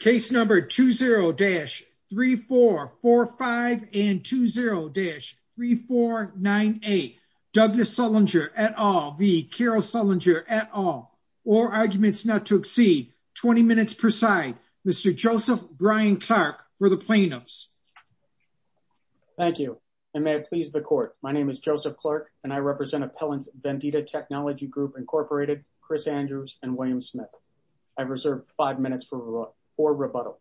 Case number 20-3445 and 20-3498. Douglas Sullinger et al v. Carol Sullinger et al. All arguments not to exceed 20 minutes per side. Mr. Joseph Brian Clark for the plaintiffs. Thank you and may it please the court. My name is Joseph Clark and I represent Appellants Vendita Technology Group Incorporated, Chris Andrews and William Smith. I've reserved five minutes for rebuttal.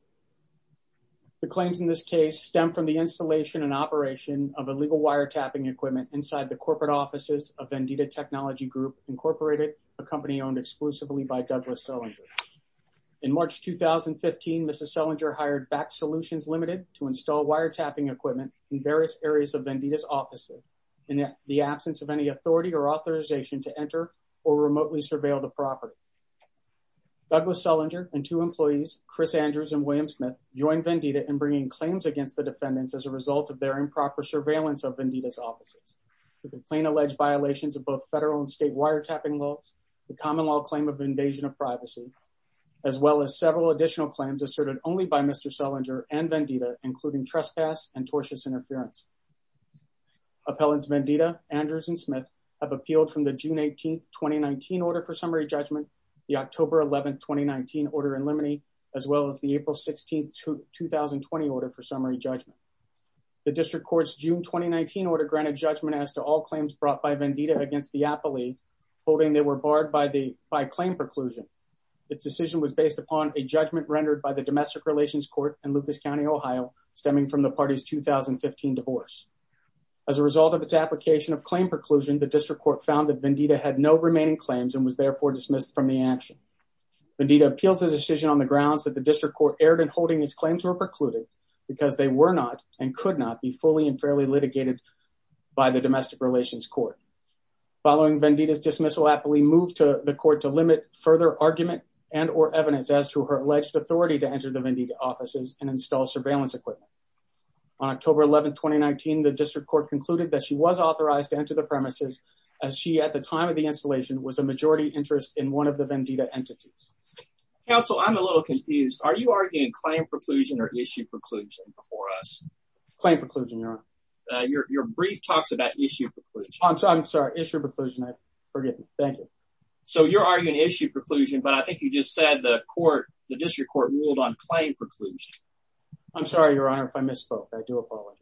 The claims in this case stem from the installation and operation of illegal wiretapping equipment inside the corporate offices of Vendita Technology Group Incorporated, a company owned exclusively by Douglas Sullinger. In March 2015, Mrs. Sullinger hired Back Solutions Limited to install wiretapping equipment in various areas of Vendita's offices in the absence of any authority or authorization to enter or remotely surveil the property. Douglas Sullinger and two employees, Chris Andrews and William Smith, joined Vendita in bringing claims against the defendants as a result of their improper surveillance of Vendita's offices. The plain alleged violations of both federal and state wiretapping laws, the common law claim of invasion of privacy, as well as several additional claims asserted only by Mr. Sullinger and Vendita, including trespass and tortious interference. Appellants Vendita, Andrews and Smith have 2019 order for summary judgment, the October 11, 2019 order in limine, as well as the April 16, 2020 order for summary judgment. The district court's June 2019 order granted judgment as to all claims brought by Vendita against the appellee, holding they were barred by the by claim preclusion. Its decision was based upon a judgment rendered by the Domestic Relations Court in Lucas County, Ohio, stemming from the party's 2015 divorce. As a result of its application of claim preclusion, the district court found that Vendita had no remaining claims and was therefore dismissed from the action. Vendita appeals his decision on the grounds that the district court erred in holding its claims were precluded because they were not and could not be fully and fairly litigated by the Domestic Relations Court. Following Vendita's dismissal, appellee moved to the court to limit further argument and or evidence as to her alleged authority to enter the Vendita offices and install surveillance equipment. On October 11, 2019, the district court concluded that she was authorized to enter the premises as she, at the time of the installation, was a majority interest in one of the Vendita entities. Counsel, I'm a little confused. Are you arguing claim preclusion or issue preclusion before us? Claim preclusion, Your Honor. Your brief talks about issue preclusion. I'm sorry, issue preclusion. I forget. Thank you. So you're arguing issue preclusion, but I think you just said the court, the district court, ruled on claim preclusion. I'm sorry, Your Honor, if I misspoke. I do apologize.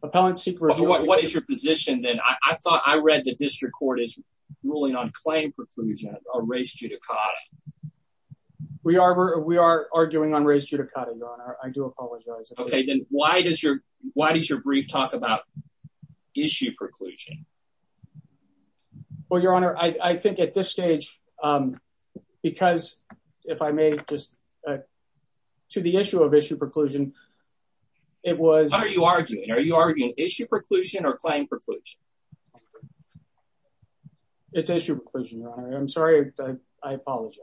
What is your position then? I thought I read the district court is ruling on claim preclusion or race judicata. We are arguing on race judicata, Your Honor. I do apologize. Okay, then why does your brief talk about issue preclusion? Well, Your Honor, I think at this stage, because if I may just, to the issue of issue preclusion, it was... What are you arguing? Are you arguing issue preclusion or claim preclusion? It's issue preclusion, Your Honor. I'm sorry. I apologize.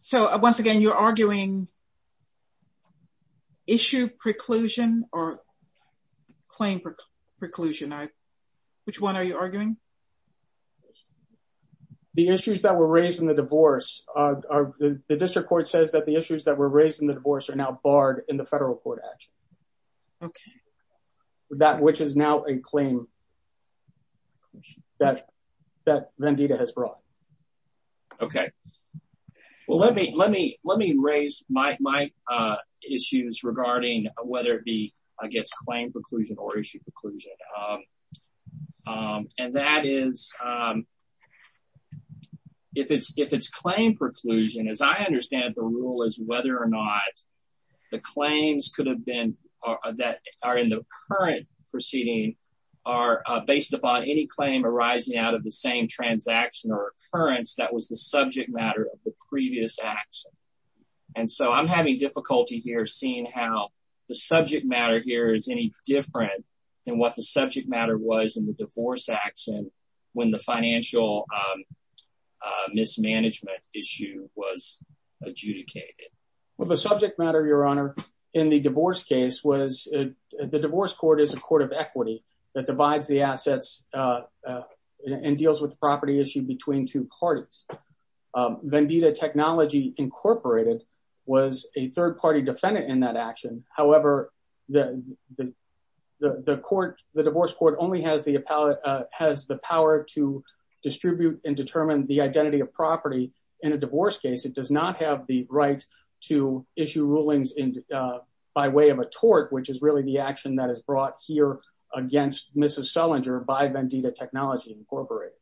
So, once again, you're arguing issue preclusion or claim preclusion. Which one are you arguing? The issues that were raised in the divorce, the district court says that the issues that were raised in the divorce are now barred in the federal court action. Okay. That which is now a claim. That Vendita has brought. Okay. Well, let me raise my issues regarding whether it be, I guess, claim preclusion or issue preclusion. And that is, if it's claim preclusion, as I understand it, the rule is whether or not the claims could have been that are in the current proceeding are based upon any claim arising out of the same transaction or occurrence that was the subject matter of the previous action. And so I'm having difficulty here seeing how the subject matter here is any different than what the subject matter was in the divorce action when the financial mismanagement issue was adjudicated. Well, the subject matter, Your Honor, in the divorce case was the divorce court is a court of equity that divides the assets and deals with the property issue between two parties. Vendita Technology Incorporated was a third party defendant in that action. However, the divorce court only has the power to distribute and determine the identity of property in a divorce case. It does not have the right to by way of a tort, which is really the action that is brought here against Mrs. Selinger by Vendita Technology Incorporated.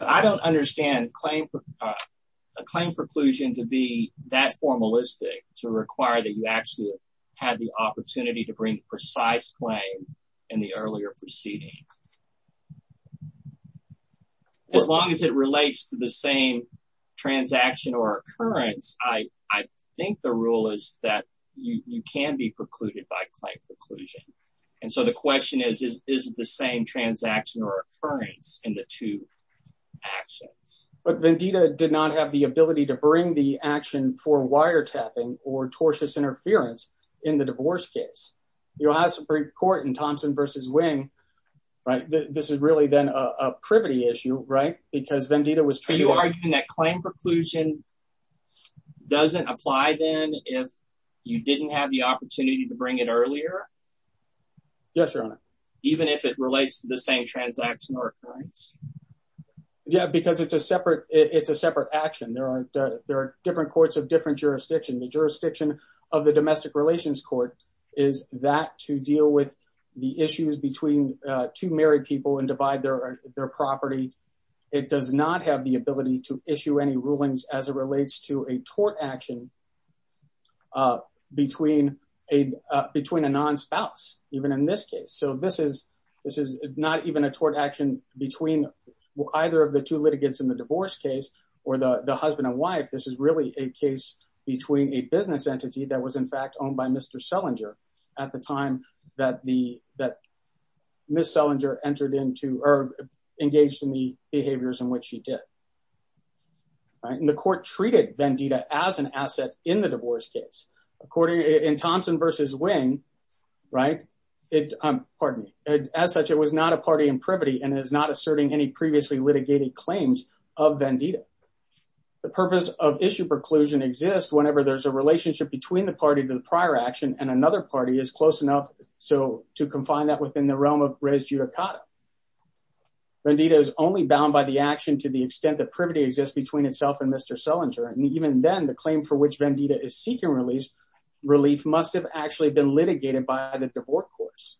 I don't understand a claim preclusion to be that formalistic to require that you actually had the opportunity to bring precise claim in the earlier proceeding. As long as it relates to the same transaction or occurrence, I think the rule is that you can be precluded by claim preclusion. And so the question is, is it the same transaction or occurrence in the two actions? But Vendita did not have the ability to bring the action for wiretapping or tortuous interference in the divorce case. The Ohio Supreme Court in Thompson v. Wing argued that claim preclusion doesn't apply if you didn't have the opportunity to bring it earlier, even if it relates to the same transaction or occurrence. Yeah, because it's a separate action. There are different courts of different jurisdictions. The two married people and divide their property. It does not have the ability to issue any rulings as it relates to a tort action between a non-spouse, even in this case. So this is not even a tort action between either of the two litigants in the divorce case or the husband and wife. This is really a case between a business entity that was in fact owned by Mr. Selinger at the time that Ms. Selinger engaged in the behaviors in which she did. The court treated Vendita as an asset in the divorce case. In Thompson v. Wing, as such, it was not a party in privity and is not asserting any previously litigated claims of Vendita. The purpose of issue preclusion exists whenever there's a relationship between party to the prior action and another party is close enough to confine that within the realm of res judicata. Vendita is only bound by the action to the extent that privity exists between itself and Mr. Selinger. And even then, the claim for which Vendita is seeking relief must have actually been litigated by the divorce courts.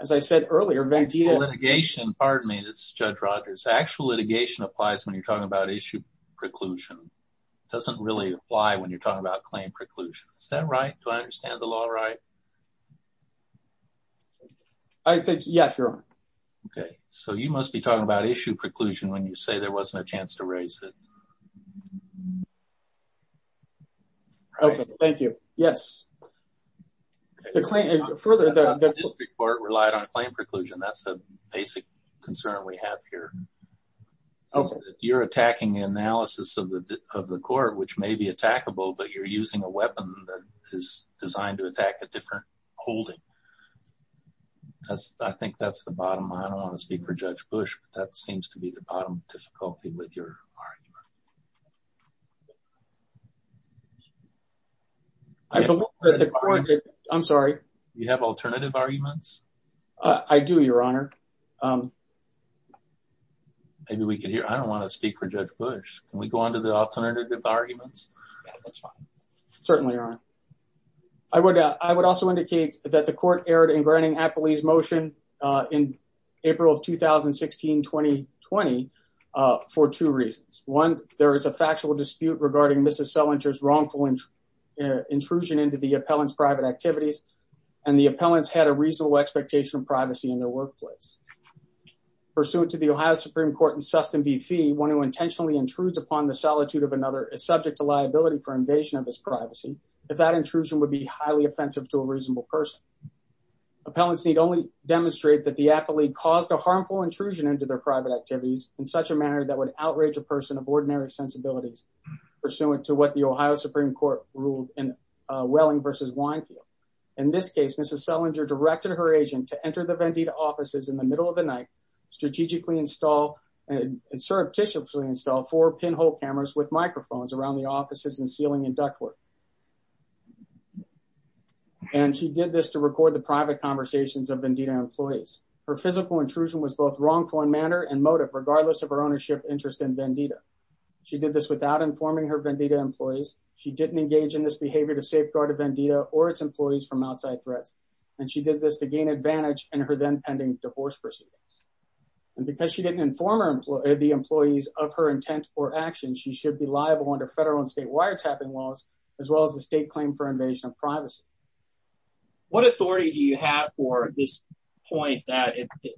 As I said earlier, Vendita litigation, pardon me. This is Judge Rogers. Actual litigation applies when you're talking about issue preclusion. It doesn't really apply when you're talking about claim preclusion. Is that right? Do I understand the law right? I think, yes, your honor. Okay, so you must be talking about issue preclusion when you say there wasn't a chance to raise it. Okay, thank you. Yes. The claim, further, the district court relied on claim preclusion. That's the basic concern we have here. You're attacking the court, which may be attackable, but you're using a weapon that is designed to attack a different holding. I think that's the bottom. I don't want to speak for Judge Bush, but that seems to be the bottom difficulty with your argument. I'm sorry. You have alternative arguments? I do, your honor. I don't want to speak for Judge Bush. Can we go on to the alternative arguments? That's fine. Certainly, your honor. I would also indicate that the court erred in granting Appley's motion in April of 2016-2020 for two reasons. One, there is a factual dispute regarding Mrs. Selinger's wrongful intrusion into the appellant's private activities, and the appellants had a reasonable expectation of privacy in their workplace. Pursuant to the Ohio Supreme Court in Sustan v. Fee, one who intentionally intrudes upon the solitude of another is subject to liability for invasion of his privacy, if that intrusion would be highly offensive to a reasonable person. Appellants need only demonstrate that the appellate caused a harmful intrusion into their private activities in such a manner that would outrage a person of ordinary sensibilities, pursuant to what the Ohio Supreme Court ruled in Welling v. Winefield. In this case, Mrs. Selinger directed her agent to enter the Vendita offices in the middle of the night, strategically install and surreptitiously install four pinhole cameras with microphones around the offices and ceiling and ductwork, and she did this to record the private conversations of Vendita employees. Her physical intrusion was both wrongful in manner and motive, regardless of her ownership interest in Vendita. She did this without informing her Vendita employees. She didn't engage in this and she did this to gain advantage in her then pending divorce proceedings. And because she didn't inform the employees of her intent or action, she should be liable under federal and state wiretapping laws, as well as the state claim for invasion of privacy. What authority do you have for this point that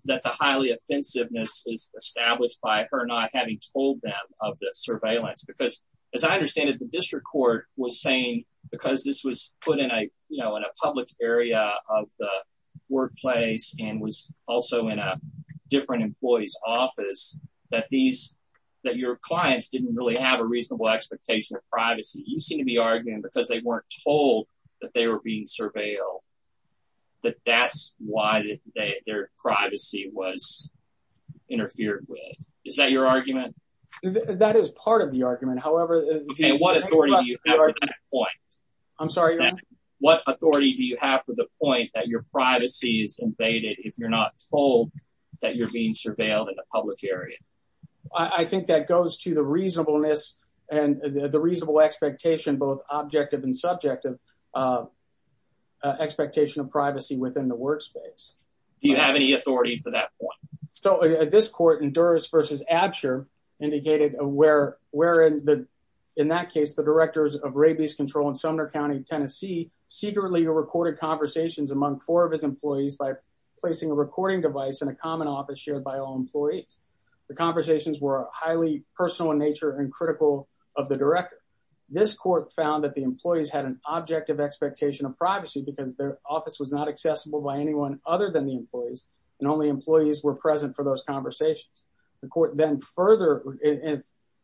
the highly offensiveness is established by her not having told them of the surveillance? Because as I understand it, the district court was saying because this was put in a, you know, in a public area of the workplace and was also in a different employee's office, that these that your clients didn't really have a reasonable expectation of privacy. You seem to be arguing because they weren't told that they were being surveilled, that that's why their privacy was interfered with. Is that your argument? That is part of the argument. However, what authority do you have for that point? What authority do you have for the point that your privacy is invaded if you're not told that you're being surveilled in a public area? I think that goes to the reasonableness and the reasonable expectation, both objective and subjective expectation of privacy within the indicated where, where in the, in that case, the directors of rabies control in Sumner County, Tennessee secretly recorded conversations among four of his employees by placing a recording device in a common office shared by all employees. The conversations were highly personal in nature and critical of the director. This court found that the employees had an objective expectation of privacy because their office was not accessible by anyone other than the employees. And only employees were present for those conversations. The court then further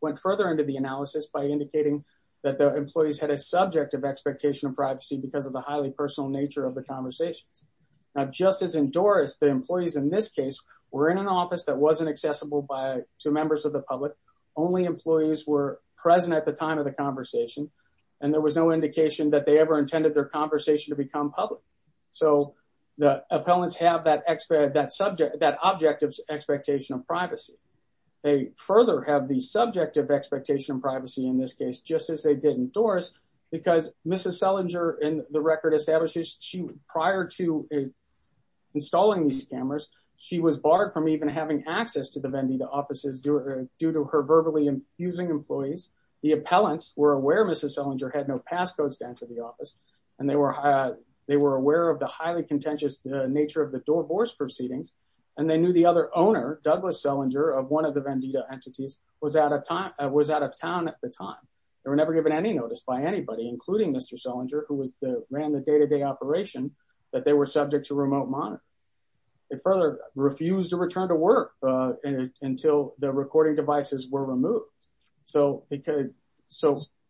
went further into the analysis by indicating that the employees had a subjective expectation of privacy because of the highly personal nature of the conversations. Now, just as in Doris, the employees in this case were in an office that wasn't accessible by two members of the public. Only employees were present at the time of the conversation. And there was no indication that ever intended their conversation to become public. So the appellants have that expert, that subject, that objective expectation of privacy. They further have the subjective expectation of privacy in this case, just as they did in Doris, because Mrs. Selinger in the record establishes she, prior to installing these scammers, she was barred from even having access to the Vendita offices due to her verbally infusing employees. The appellants were aware, Mrs. Selinger had no passcodes to enter the office, and they were aware of the highly contentious nature of the divorce proceedings. And they knew the other owner, Douglas Selinger, of one of the Vendita entities was out of town at the time. They were never given any notice by anybody, including Mr. Selinger, who ran the day-to-day operation, that they were subject to remote monitoring. They further refused to return to work until the recording devices were removed. So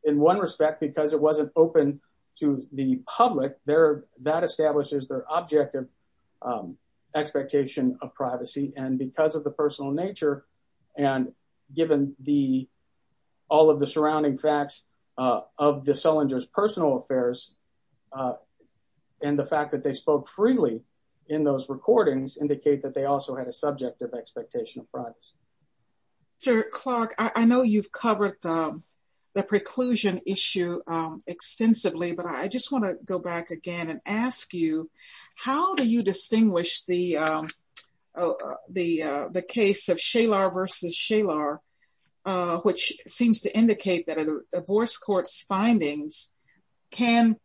in one respect, because it wasn't open to the public, that establishes their objective expectation of privacy. And because of the personal nature, and given all of the surrounding facts of the Selinger's personal affairs, and the fact that they spoke freely in those recordings, indicate that they also had a subjective expectation of privacy. Mr. Clark, I know you've covered the preclusion issue extensively, but I just want to go back again and ask you, how do you distinguish the case of Shalar versus Shalar, which seems to indicate that a divorce court's findings can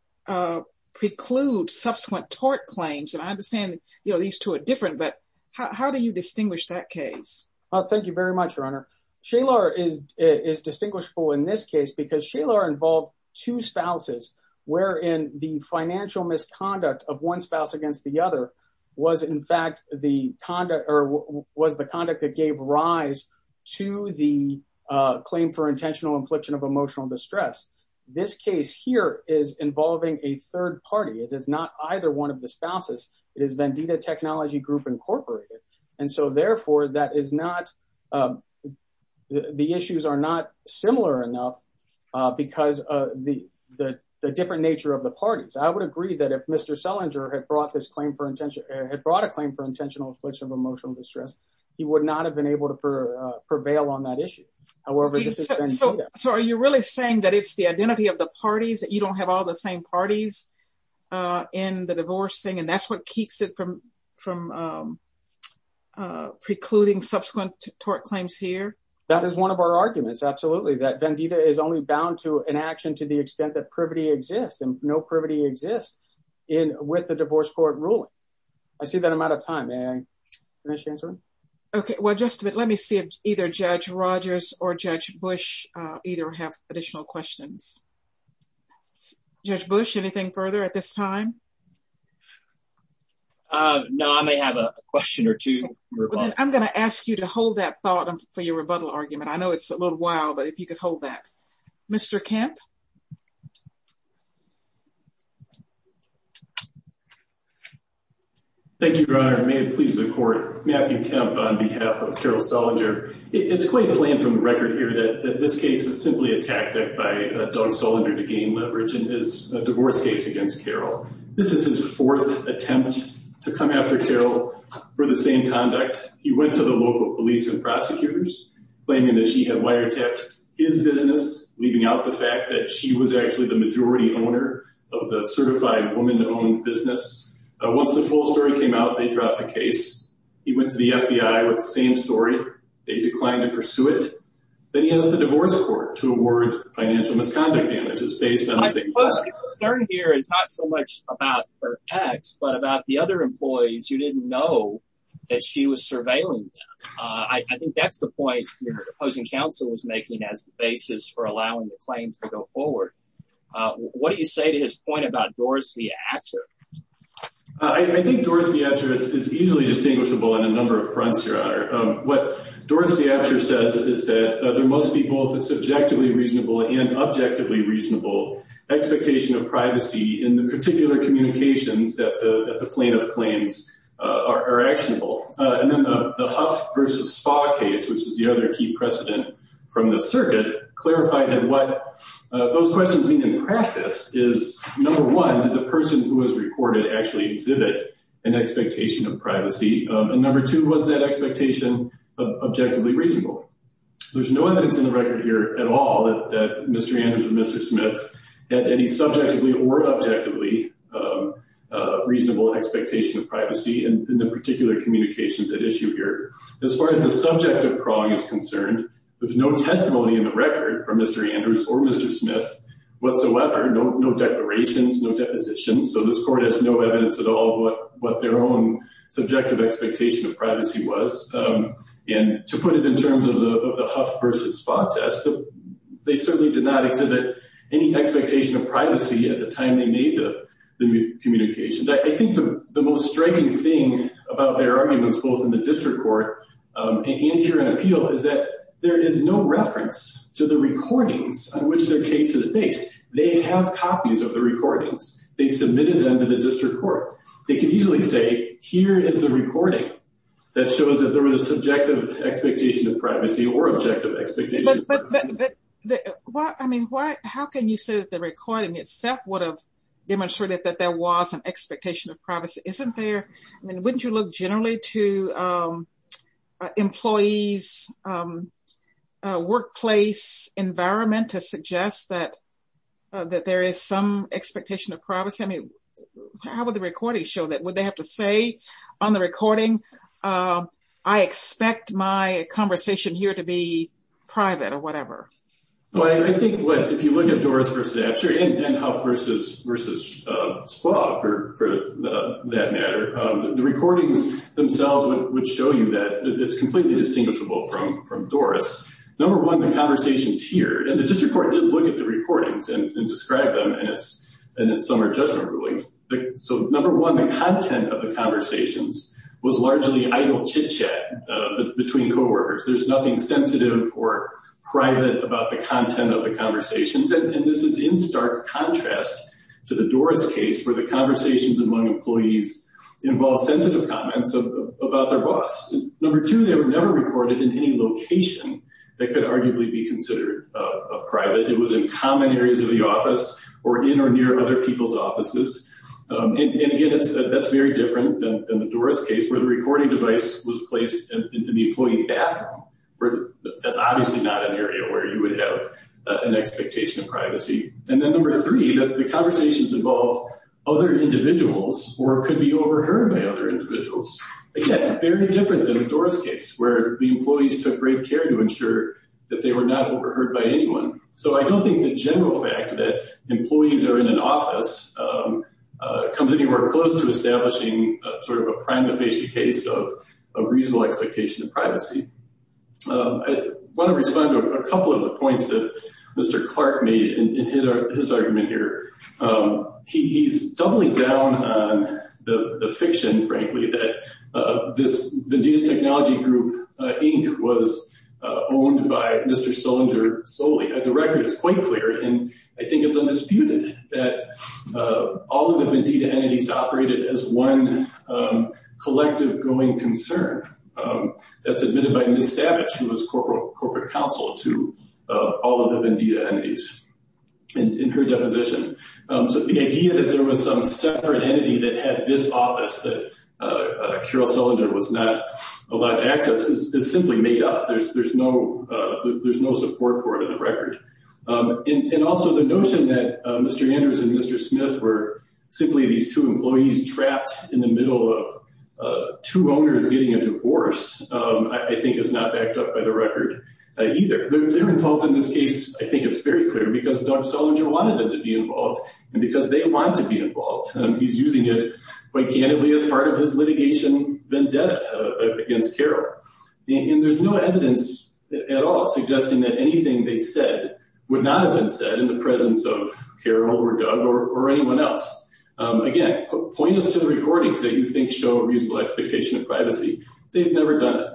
preclude subsequent tort claims? And I understand these two are different, but how do you distinguish that case? Well, thank you very much, Your Honor. Shalar is distinguishable in this case because Shalar involved two spouses, wherein the financial misconduct of one spouse against the other was, in fact, the conduct that gave rise to the claim for intentional infliction of emotional distress. This case here is involving a third party. It is not either one of the spouses. It is Vendita Technology Group, Incorporated. And so therefore, the issues are not similar enough because of the different nature of the parties. I would agree that if Mr. Selinger had brought this claim for intentional infliction of emotional distress, he would not have been able to prevail on that issue. However, this is Vendita. So are you really saying that it's the identity of the parties, that you don't have all the same parties in the divorce thing, and that's what keeps it from precluding subsequent tort claims here? That is one of our arguments, absolutely, that Vendita is only bound to an action to the extent that privity exists, and no privity exists with the divorce court ruling. I see that I'm out of time. May I finish answering? Okay. Well, just a minute. Let me see if either Judge Rogers or Judge Bush either have additional questions. Judge Bush, anything further at this time? No, I may have a question or two. I'm going to ask you to hold that thought for your rebuttal argument. I know it's a little wild, but if you could hold that. Mr. Kemp? Thank you, Your Honor. May it please the court. Matthew Kemp on behalf of Cheryl Selinger. It's quite plain from the record here that this case is simply a tactic by Doug Selinger to gain leverage in his divorce case against Cheryl. This is his fourth attempt to come after Cheryl for the same conduct. He went to the local police and prosecutors, claiming that she had wiretapped his business, leaving out the fact that she was actually the majority owner of the certified woman-owned business. Once the full story came out, they dropped the case. He went to the FBI with the same story. They declined to pursue it. Then he asked the divorce court to award financial misconduct damages based on the same- My question here is not so much about her ex, but about the other employees who didn't know that she was surveilling them. I think that's the point your opposing counsel was making as the basis for allowing the claims to go forward. What do you say to his point about Doris V. Apsher? I think Doris V. Apsher is easily distinguishable on a number of fronts, Your Honor. What Doris V. Apsher says is that there must be both a subjectively reasonable and objectively reasonable expectation of privacy in the particular communications that the plaintiff claims are actionable. Then the Huff v. Spa case, which is the other key precedent from the circuit, clarified that what those questions mean in practice is, number one, did the person who was recorded actually exhibit an expectation of privacy? Number two, was that expectation objectively reasonable? There's no evidence in the record here at all that Mr. Andrews and Mr. Smith had any subjectively or objectively reasonable expectation of privacy in the particular communications at issue here. As far as the subject of prong is concerned, there's no testimony in the record from Mr. Andrews or Mr. Smith whatsoever, no declarations, no depositions, so this court has no evidence at all of what their own subjective expectation of privacy was. To put it in terms of the Huff v. Spa test, they certainly did not exhibit any expectation of privacy at the time they made the communications. I think the most striking thing about their arguments, both in the district court and here in appeal, is that there is no they submitted them to the district court. They could easily say, here is the recording that shows that there was a subjective expectation of privacy or objective expectation. But I mean, how can you say that the recording itself would have demonstrated that there was an expectation of privacy? I mean, wouldn't you look generally to employees' workplace environment to suggest that there is some expectation of privacy? I mean, how would the recording show that? Would they have to say on the recording, I expect my conversation here to be private or whatever? Well, I think if you look at Doris v. Absher and Huff v. Spa for that matter, the recordings themselves would show you that it's completely distinguishable from Doris. Number one, the conversations here, and the district court did look at the recordings and describe them in its summer judgment ruling. So number one, the content of the conversations was largely idle chit-chat between coworkers. There's nothing sensitive or private about the content of the conversations. And this is in stark contrast to the Doris case where the conversations among coworkers had no comments about their boss. Number two, they were never recorded in any location that could arguably be considered private. It was in common areas of the office or in or near other people's offices. And again, that's very different than the Doris case where the recording device was placed in the employee bathroom. That's obviously not an area where you would have an expectation of privacy. And then number three, that the conversations involved other individuals or could be overheard by other individuals. Again, very different than the Doris case where the employees took great care to ensure that they were not overheard by anyone. So I don't think the general fact that employees are in an office comes anywhere close to establishing sort of a prima facie case of reasonable expectation of privacy. I want to respond to a couple of the points that Mr. Clark made in his argument here. He's doubling down on the fiction, frankly, that this Vendita Technology Group Inc. was owned by Mr. Sollinger solely. The record is quite clear, and I think it's undisputed that all of the Vendita entities operated as one collective going concern. That's admitted by Ms. Savage, who was Corporate Counsel to all of the Vendita entities in her deposition. So the idea that there was some separate entity that had this office that Carol Sollinger was not allowed access is simply made up. There's no support for it in the record. And also the notion that Mr. Andrews and Mr. Smith were simply these two employees trapped in the middle of two owners getting a divorce, I think, is not backed up by the record either. Their involvement in this case, I think, is very clear because Doug Sollinger wanted them to be involved and because they wanted to be involved. He's using it quite candidly as part of his litigation vendetta against Carol. And there's no evidence at all suggesting that anything they said would not have been said in the presence of Carol or Doug or anyone else. Again, pointless to the recordings that you think show a reasonable expectation of privacy. They've never done it.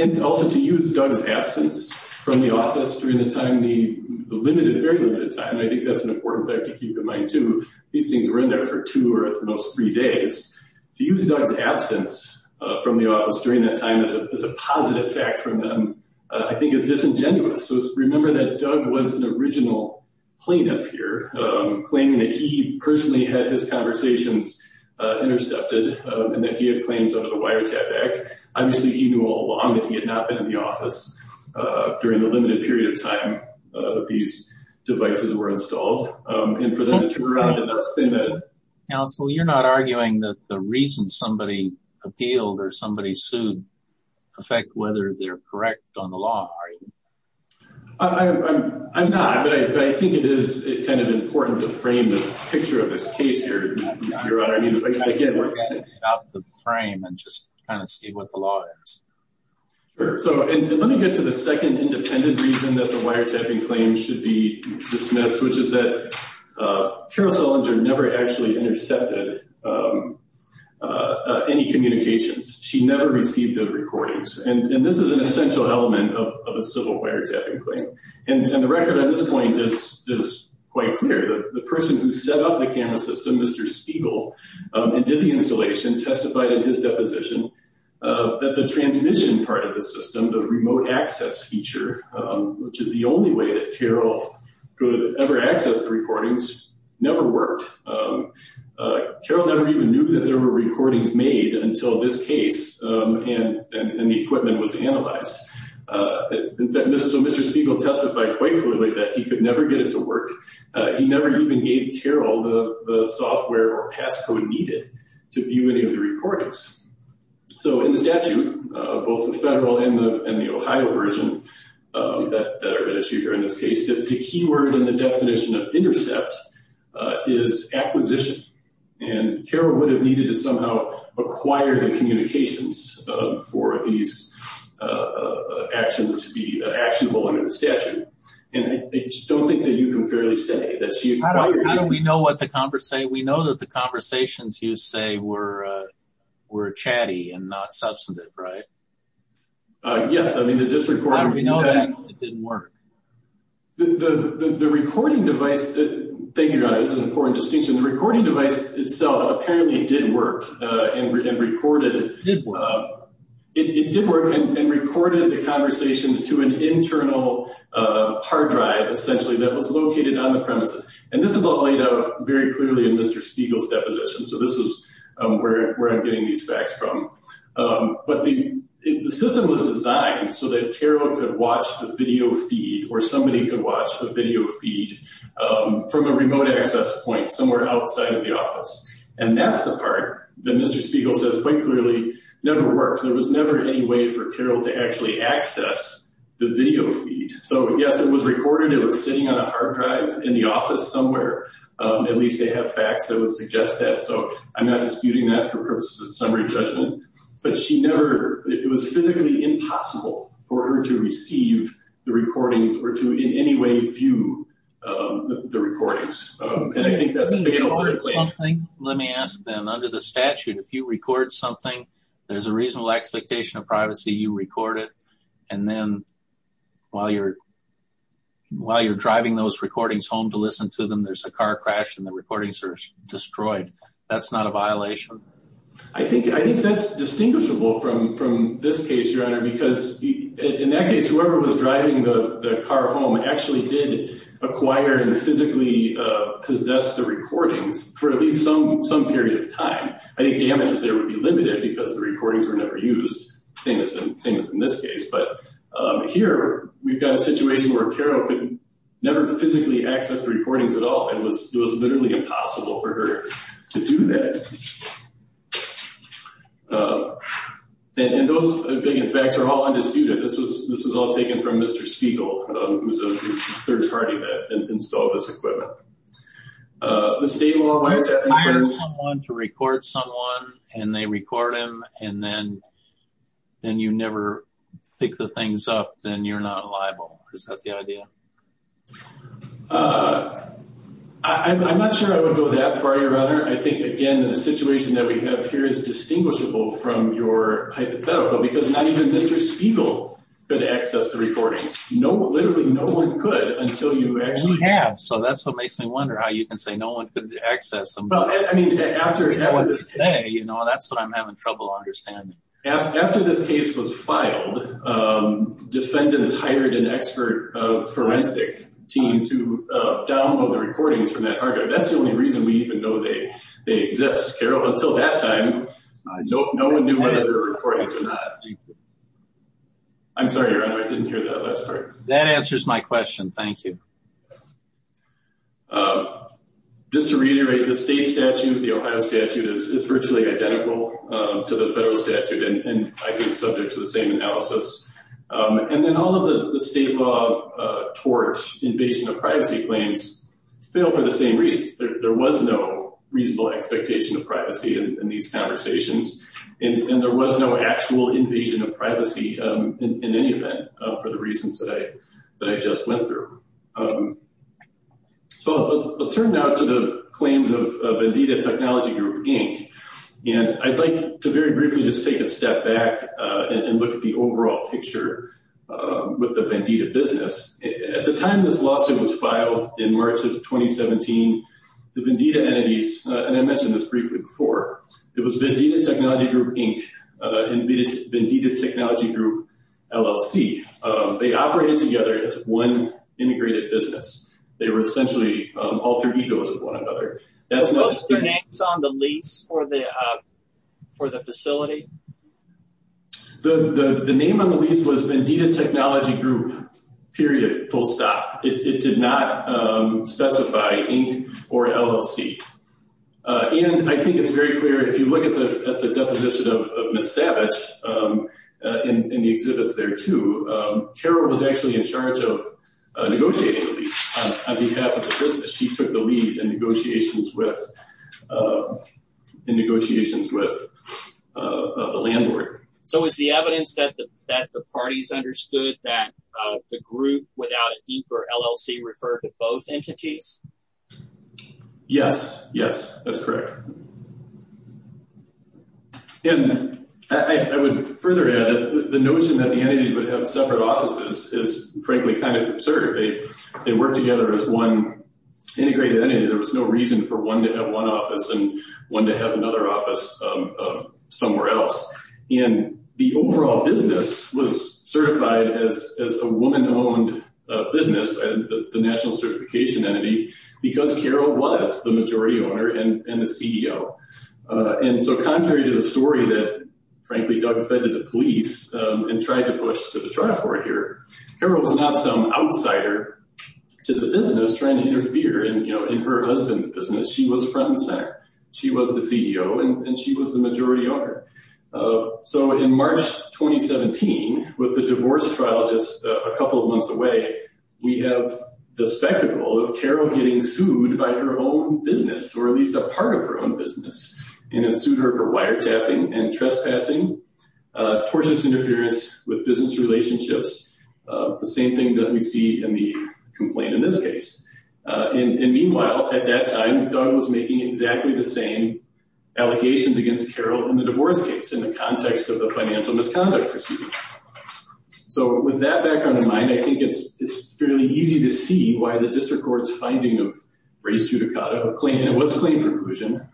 And also to use Doug's absence from the office during the time, the limited, very limited time, I think that's an important fact to keep in mind too. These things were in there for two or at the most three days. To use Doug's absence from the office during that time as a positive fact from them, I think is disingenuous. So remember that Doug was an original plaintiff here, claiming that he personally had his conversations intercepted and that he had claims under the Wiretap Act. Obviously, he knew all along that he had not been in the office during the limited period of time that these devices were installed. And for them to turn around and not explain that. Counsel, you're not arguing that the reason somebody appealed or somebody sued affect whether they're correct on the law, are you? I'm not, but I think it is kind of important to frame the picture of this case here, Your Honor. Again, we're going to get out the frame and just kind of see what the law is. Sure. So let me get to the second independent reason that the wiretapping claims should be dismissed, which is that Carol Sollinger never actually intercepted any communications. She never received the recordings. And this is an essential element of a civil wiretapping claim. And the record at this point is quite clear. The person who set up the camera system, Mr. Spiegel, did the installation, testified in his deposition that the transmission part of the system, the remote access feature, which is the only way that Carol could ever access the recordings, never worked. Carol never even knew that there were recordings made until this case and the equipment was analyzed. So Mr. Spiegel testified quite clearly that he could never get it to work. He never even gave Carol the software or passcode needed to view any of the recordings. So in the statute, both the federal and the Ohio version that are at issue here in this case, the keyword and the definition of intercept is acquisition. And Carol would have needed to somehow acquire the communications for these actions to be actionable under the statute. And I just don't think that you can fairly say that she acquired it. How do we know what the conversation, we know that the conversations you say were chatty and not substantive, right? Yes. I mean, the district court. How do we know that it didn't work? The recording device that, thank you, guys, is an important distinction. The recording device itself apparently did work and recorded. It did work and recorded the conversations to an internal hard drive, essentially, that was located on the premises. And this is all laid out very clearly in Mr. Spiegel's deposition. So this is where I'm getting these facts from. But the system was designed so that Carol could watch the video feed or somebody could watch the video feed from a remote access point somewhere outside of the office. And that's the part that Mr. Spiegel says quite clearly never worked. There was never any way for Carol to actually access the video feed. So yes, it was recorded. It was sitting on a hard drive in the office somewhere. At least they have facts that would suggest that. So I'm not disputing that for purposes of summary judgment. But she never, it was physically impossible for her to receive the recordings or to in any way view the recordings. And I think that's... Let me ask then, under the statute, if you record something, there's a reasonable expectation of privacy, you record it. And then while you're driving those recordings home to listen to them, there's a car crash and the recordings are destroyed. That's not a violation? I think that's distinguishable from this case, Your Honor, because in that case, whoever was driving the car home actually did acquire and physically possess the recordings for at least some period of time. I think damages there would be limited because the recordings were never used, same as in this case. But here, we've got a situation where Carol could never physically access the recordings at all and it was literally impossible for her to do that. And those big facts are all undisputed. This was all taken from Mr. Spiegel, who's the third party that installed this equipment. The state law... If you hire someone to record someone and they record him and then you never pick the things up, then you're not liable. Is that the idea? I'm not sure I would go that far, Your Honor. I think, again, the situation that we have here is distinguishable from your hypothetical because not even Mr. Spiegel could access the recordings. Literally, no one could until you actually... We have, so that's what makes me wonder how you can say no one could access them. Well, I mean, after this case... Today, that's what I'm having trouble understanding. After this case was filed, defendants hired an expert forensic team to download the recordings from that archive. That's the only reason we even know they exist, Carol. Until that time, no one knew whether they were recordings or not. I'm sorry, Your Honor, I didn't hear that last part. That answers my question. Thank you. Just to reiterate, the state statute, the Ohio statute, is virtually identical to the federal statute and I think subject to the same analysis. And then all of the state law tort invasion of privacy claims fail for the same reasons. There was no reasonable expectation of privacy in these conversations and there was no actual invasion of privacy in any event for the reasons that I just went through. So, I'll turn now to the claims of Vendita Technology Group, Inc. And I'd like to very briefly just take a step back and look at the overall picture with the Vendita business. At the time this lawsuit was filed in March of 2017, the Vendita entities, and I mentioned this briefly before, it was Vendita Technology Group, Inc. and Vendita Technology Group, LLC. They operated together as one integrated business. They were essentially alter egos of one another. What was their name on the lease for the facility? The name on the lease was Vendita Technology Group, period, full stop. It did not specify Inc. or LLC. And I think it's very clear if you look at the deposition of Ms. Savage in the exhibits there too, Carol was actually in charge of negotiating the lease on behalf of the business. She took the lead in negotiations with the landlord. So, is the evidence that the parties understood that the group without Inc. or LLC referred to both entities? Yes, yes, that's correct. And I would further add that the notion that the entities would have separate offices is frankly kind of absurd. They worked together as one integrated entity. There was no reason for one to have one office and one to have another office somewhere else. And the overall business was certified as a woman-owned business, the national certification entity, because Carol was the majority owner and the CEO. And so, contrary to the story that, frankly, Doug fed to the police and tried to push to the triforce here, Carol was not some outsider to the business trying to interfere in her husband's business. She was front and center. She was the CEO, and she was the majority owner. So, in March 2017, with the divorce trial just a couple of weeks away, we have the spectacle of Carol getting sued by her own business, or at least a part of her own business, and then sued her for wiretapping and trespassing, tortious interference with business relationships, the same thing that we see in the complaint in this case. And meanwhile, at that time, Doug was making exactly the same allegations against Carol in the divorce case, in the context of the financial misconduct proceeding. So, with that background in mind, I think it's fairly easy to see why the district court's finding of race judicata, and it was a claim conclusion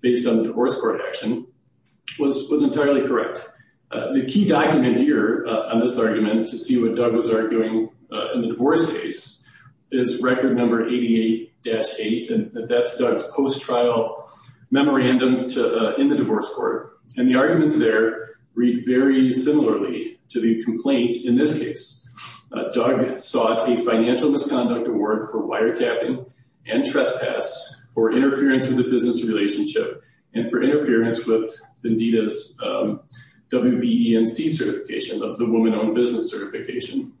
based on the divorce court action, was entirely correct. The key document here on this argument to see what Doug was arguing in the divorce case is record number 88-8, and that's Doug's post-trial memorandum in the divorce court. And the arguments there read very similarly to the complaint in this case. Doug sought a financial misconduct award for wiretapping and trespass, for interference with the business relationship, and for interference with Vendita's WBENC certification, the woman-owned business certification.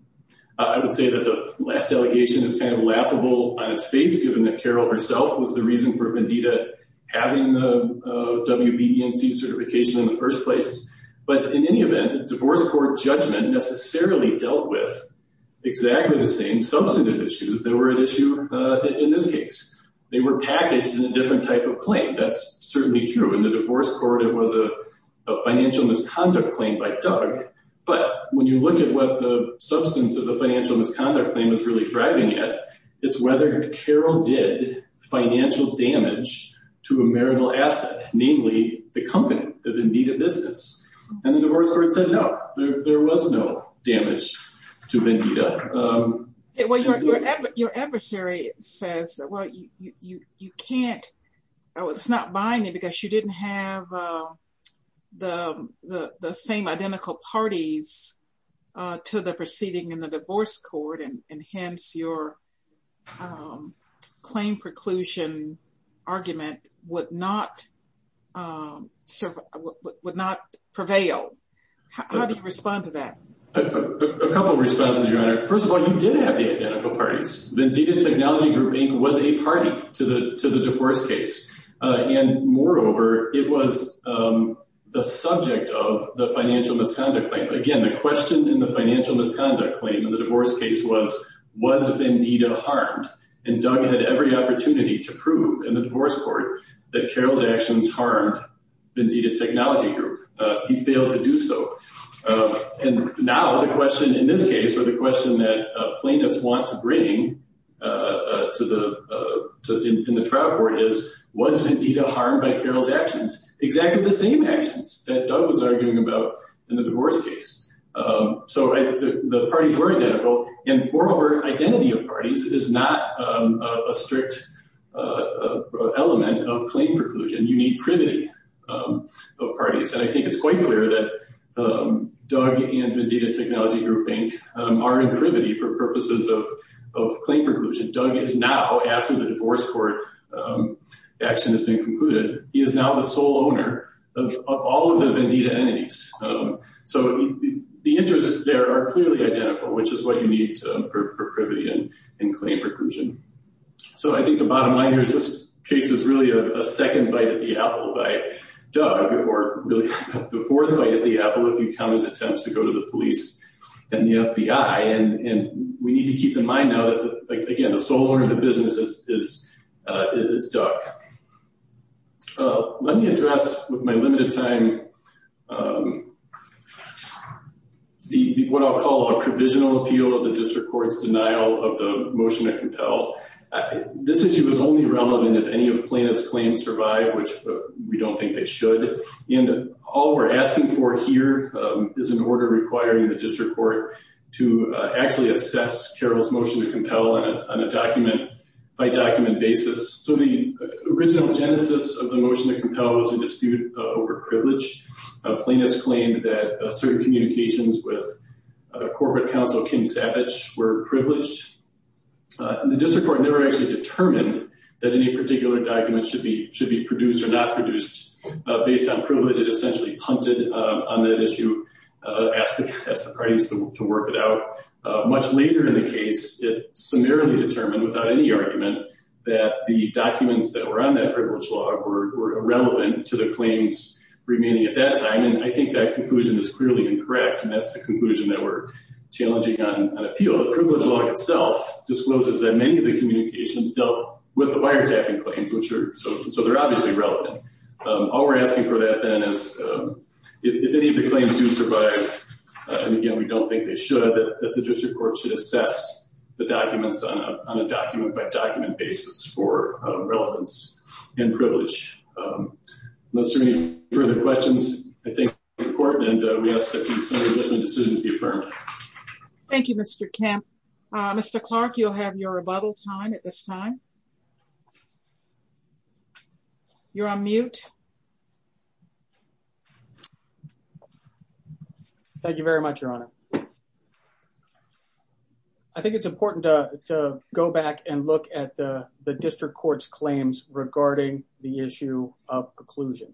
I would say that the last allegation is kind of laughable on its face, given that Carol was the reason for Vendita having the WBENC certification in the first place. But in any event, the divorce court judgment necessarily dealt with exactly the same substantive issues that were at issue in this case. They were packaged in a different type of claim. That's certainly true. In the divorce court, it was a financial misconduct claim by Doug, but when you look at what the substance of the financial misconduct claim is really driving at, it's whether Carol did financial damage to a marital asset, namely the company, the Vendita business. And the divorce court said no, there was no damage to Vendita. Your adversary says, well, it's not by me because you didn't have the same identical parties to the proceeding in the divorce court, and hence your claim preclusion argument would not prevail. How do you respond to that? A couple of responses, Your Honor. First of all, you did have the identical parties. Vendita Technology Group Inc. was a party to the question in the financial misconduct claim in the divorce case was, was Vendita harmed? And Doug had every opportunity to prove in the divorce court that Carol's actions harmed Vendita Technology Group. He failed to do so. And now the question in this case, or the question that plaintiffs want to bring in the trial court is, was Vendita harmed by Carol's actions? Exactly the same actions that Doug was arguing about in the divorce case. So the parties were identical, and moreover, identity of parties is not a strict element of claim preclusion. You need privity of parties. And I think it's quite clear that Doug and Vendita Technology Group Inc. are in privity for purposes of claim preclusion. Doug is now, after the divorce court action has been concluded, he is now the sole owner of all of the Vendita entities. So the interests there are clearly identical, which is what you need for privity and claim preclusion. So I think the bottom line here is this case is really a second bite at the apple by Doug, or really the fourth bite at the apple if you count his attempts to go to the police and the FBI. And we need to keep in mind now that, again, the sole owner of the business is Doug. Let me address with my limited time what I'll call a provisional appeal of the district court's denial of the motion to compel. This issue is only relevant if any of plaintiff's claims survive, which we don't think they should. And all we're asking for here is an order requiring the district court to actually assess Carroll's motion to compel on a document-by-document basis. So the original genesis of the motion to compel was a dispute over privilege. Plaintiffs claimed that certain communications with corporate counsel Kim Savage were privileged. The district court never actually determined that any particular document should be produced or not produced based on privilege. It essentially punted on that issue, asked the parties to work it out. Much later in the case, it summarily determined without any argument that the documents that were on that privilege law were irrelevant to the claims remaining at that time. And I think that conclusion is clearly incorrect, and that's the conclusion that we're challenging on appeal. The privilege law itself discloses that many of the communications dealt with the wiretapping claims, so they're obviously relevant. All we're asking for that, then, is if any of the claims do survive, and again, we don't think they should, that the district court should assess the documents on a document-by-document basis for relevance and privilege. Unless there are any further questions, I thank the court, and we ask that these submissions and decisions be affirmed. Thank you, Mr. Kemp. Mr. Clark, you'll have your rebuttal time at this time. You're on mute. Thank you very much, Your Honor. I think it's important to go back and look at the district court's claims regarding the issue of preclusion.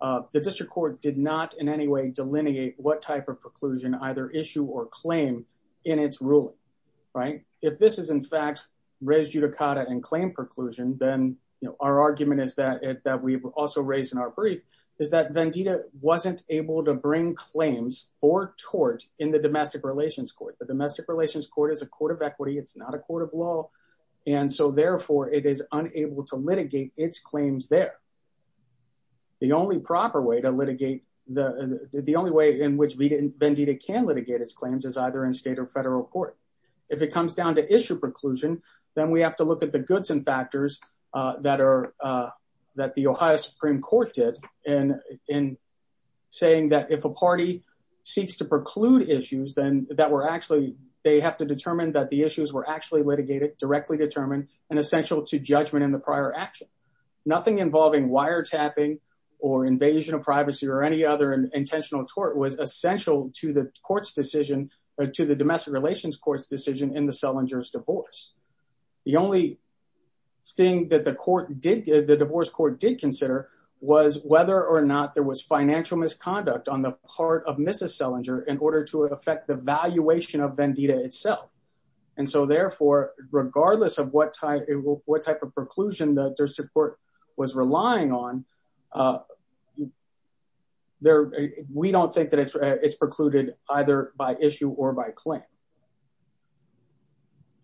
The district court did not in any way delineate what type of preclusion either issue or claim in its ruling, right? If this is, in fact, res judicata and claim preclusion, then our argument is that we've also raised in our brief is that Vendita wasn't able to bring claims or tort in the domestic relations court. The domestic relations court is a court of equity. It's not a court of law, and so, therefore, it is unable to litigate its claims there. The only proper way to litigate, the only way in which Vendita can litigate its claims is either in state or federal court. If it comes down to issue preclusion, then we have to look at the goods and factors that the Ohio Supreme Court did in saying that if a party seeks to preclude issues, then they have to determine that the issues were actually litigated, directly determined, and essential to judgment in the prior action. Nothing involving wiretapping or invasion of privacy or any other intentional tort was essential to the to the domestic relations court's decision in the Selinger's divorce. The only thing that the divorce court did consider was whether or not there was financial misconduct on the part of Mrs. Selinger in order to affect the valuation of Vendita itself, and so, therefore, regardless of what type of preclusion that their support was relying on, you know, we don't think that it's precluded either by issue or by claim.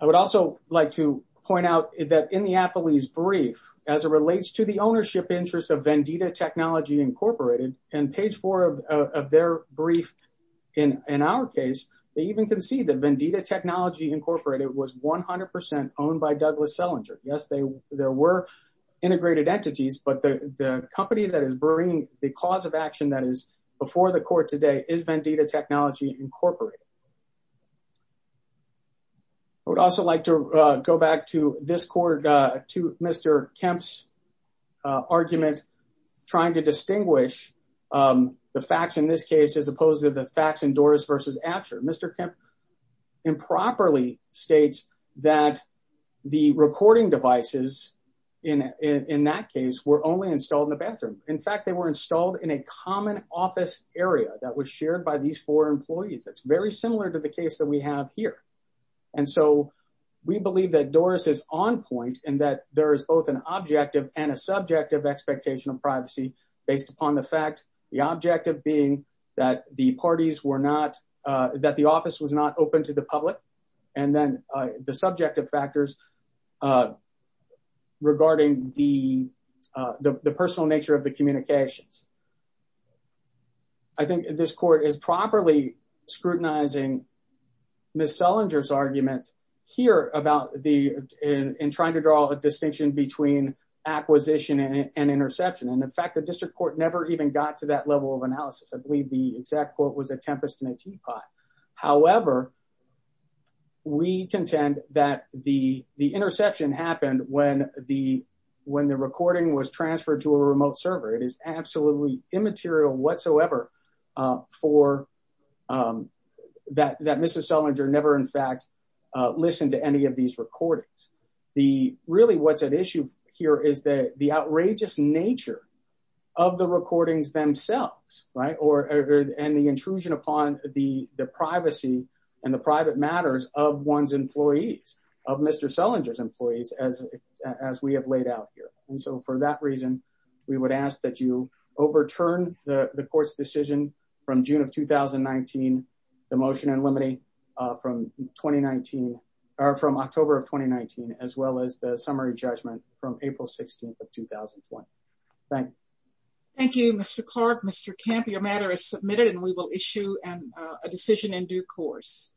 I would also like to point out that in the affilee's brief, as it relates to the ownership interests of Vendita Technology Incorporated, in page four of their brief, in our case, they even concede that Vendita Technology Incorporated was 100% owned by Douglas Selinger. Yes, there were integrated entities, but the company that is bringing the cause of action that is before the court today is Vendita Technology Incorporated. I would also like to go back to this court, to Mr. Kemp's argument, trying to distinguish the facts in this case as opposed to the facts in Doris v. Absher. Mr. Kemp improperly states that the recording devices in that case were only installed in the bathroom. In fact, they were installed in a common office area that was shared by these four employees. That's very similar to the case that we have here, and so, we believe that Doris is on point and that there is both an objective and a subjective expectation of privacy based upon the fact, the objective being that the parties were not, that the office was not open to the public, and then the subjective factors regarding the personal nature of the communications. I think this court is properly scrutinizing Ms. Selinger's argument here about the, in trying to draw a distinction between acquisition and interception, and in fact, the district court never even got to that level of analysis. I believe the exact court was a Tempest and a Teapot. However, we contend that the interception happened when the recording was transferred to a remote server. It is absolutely immaterial whatsoever for, um, that Mr. Selinger never, in fact, listened to any of these recordings. Really, what's at issue here is the outrageous nature of the recordings themselves, right, and the intrusion upon the privacy and the private matters of one's employees, of Mr. Selinger's employees, as we have laid out here. And so, for that reason, we would ask that you overturn the court's decision from June of 2019, the motion in limine from 2019, or from October of 2019, as well as the summary judgment from April 16th of 2021. Thank you, Mr. Clark. Mr. Kemp, your matter is submitted, and we will issue a decision in due course.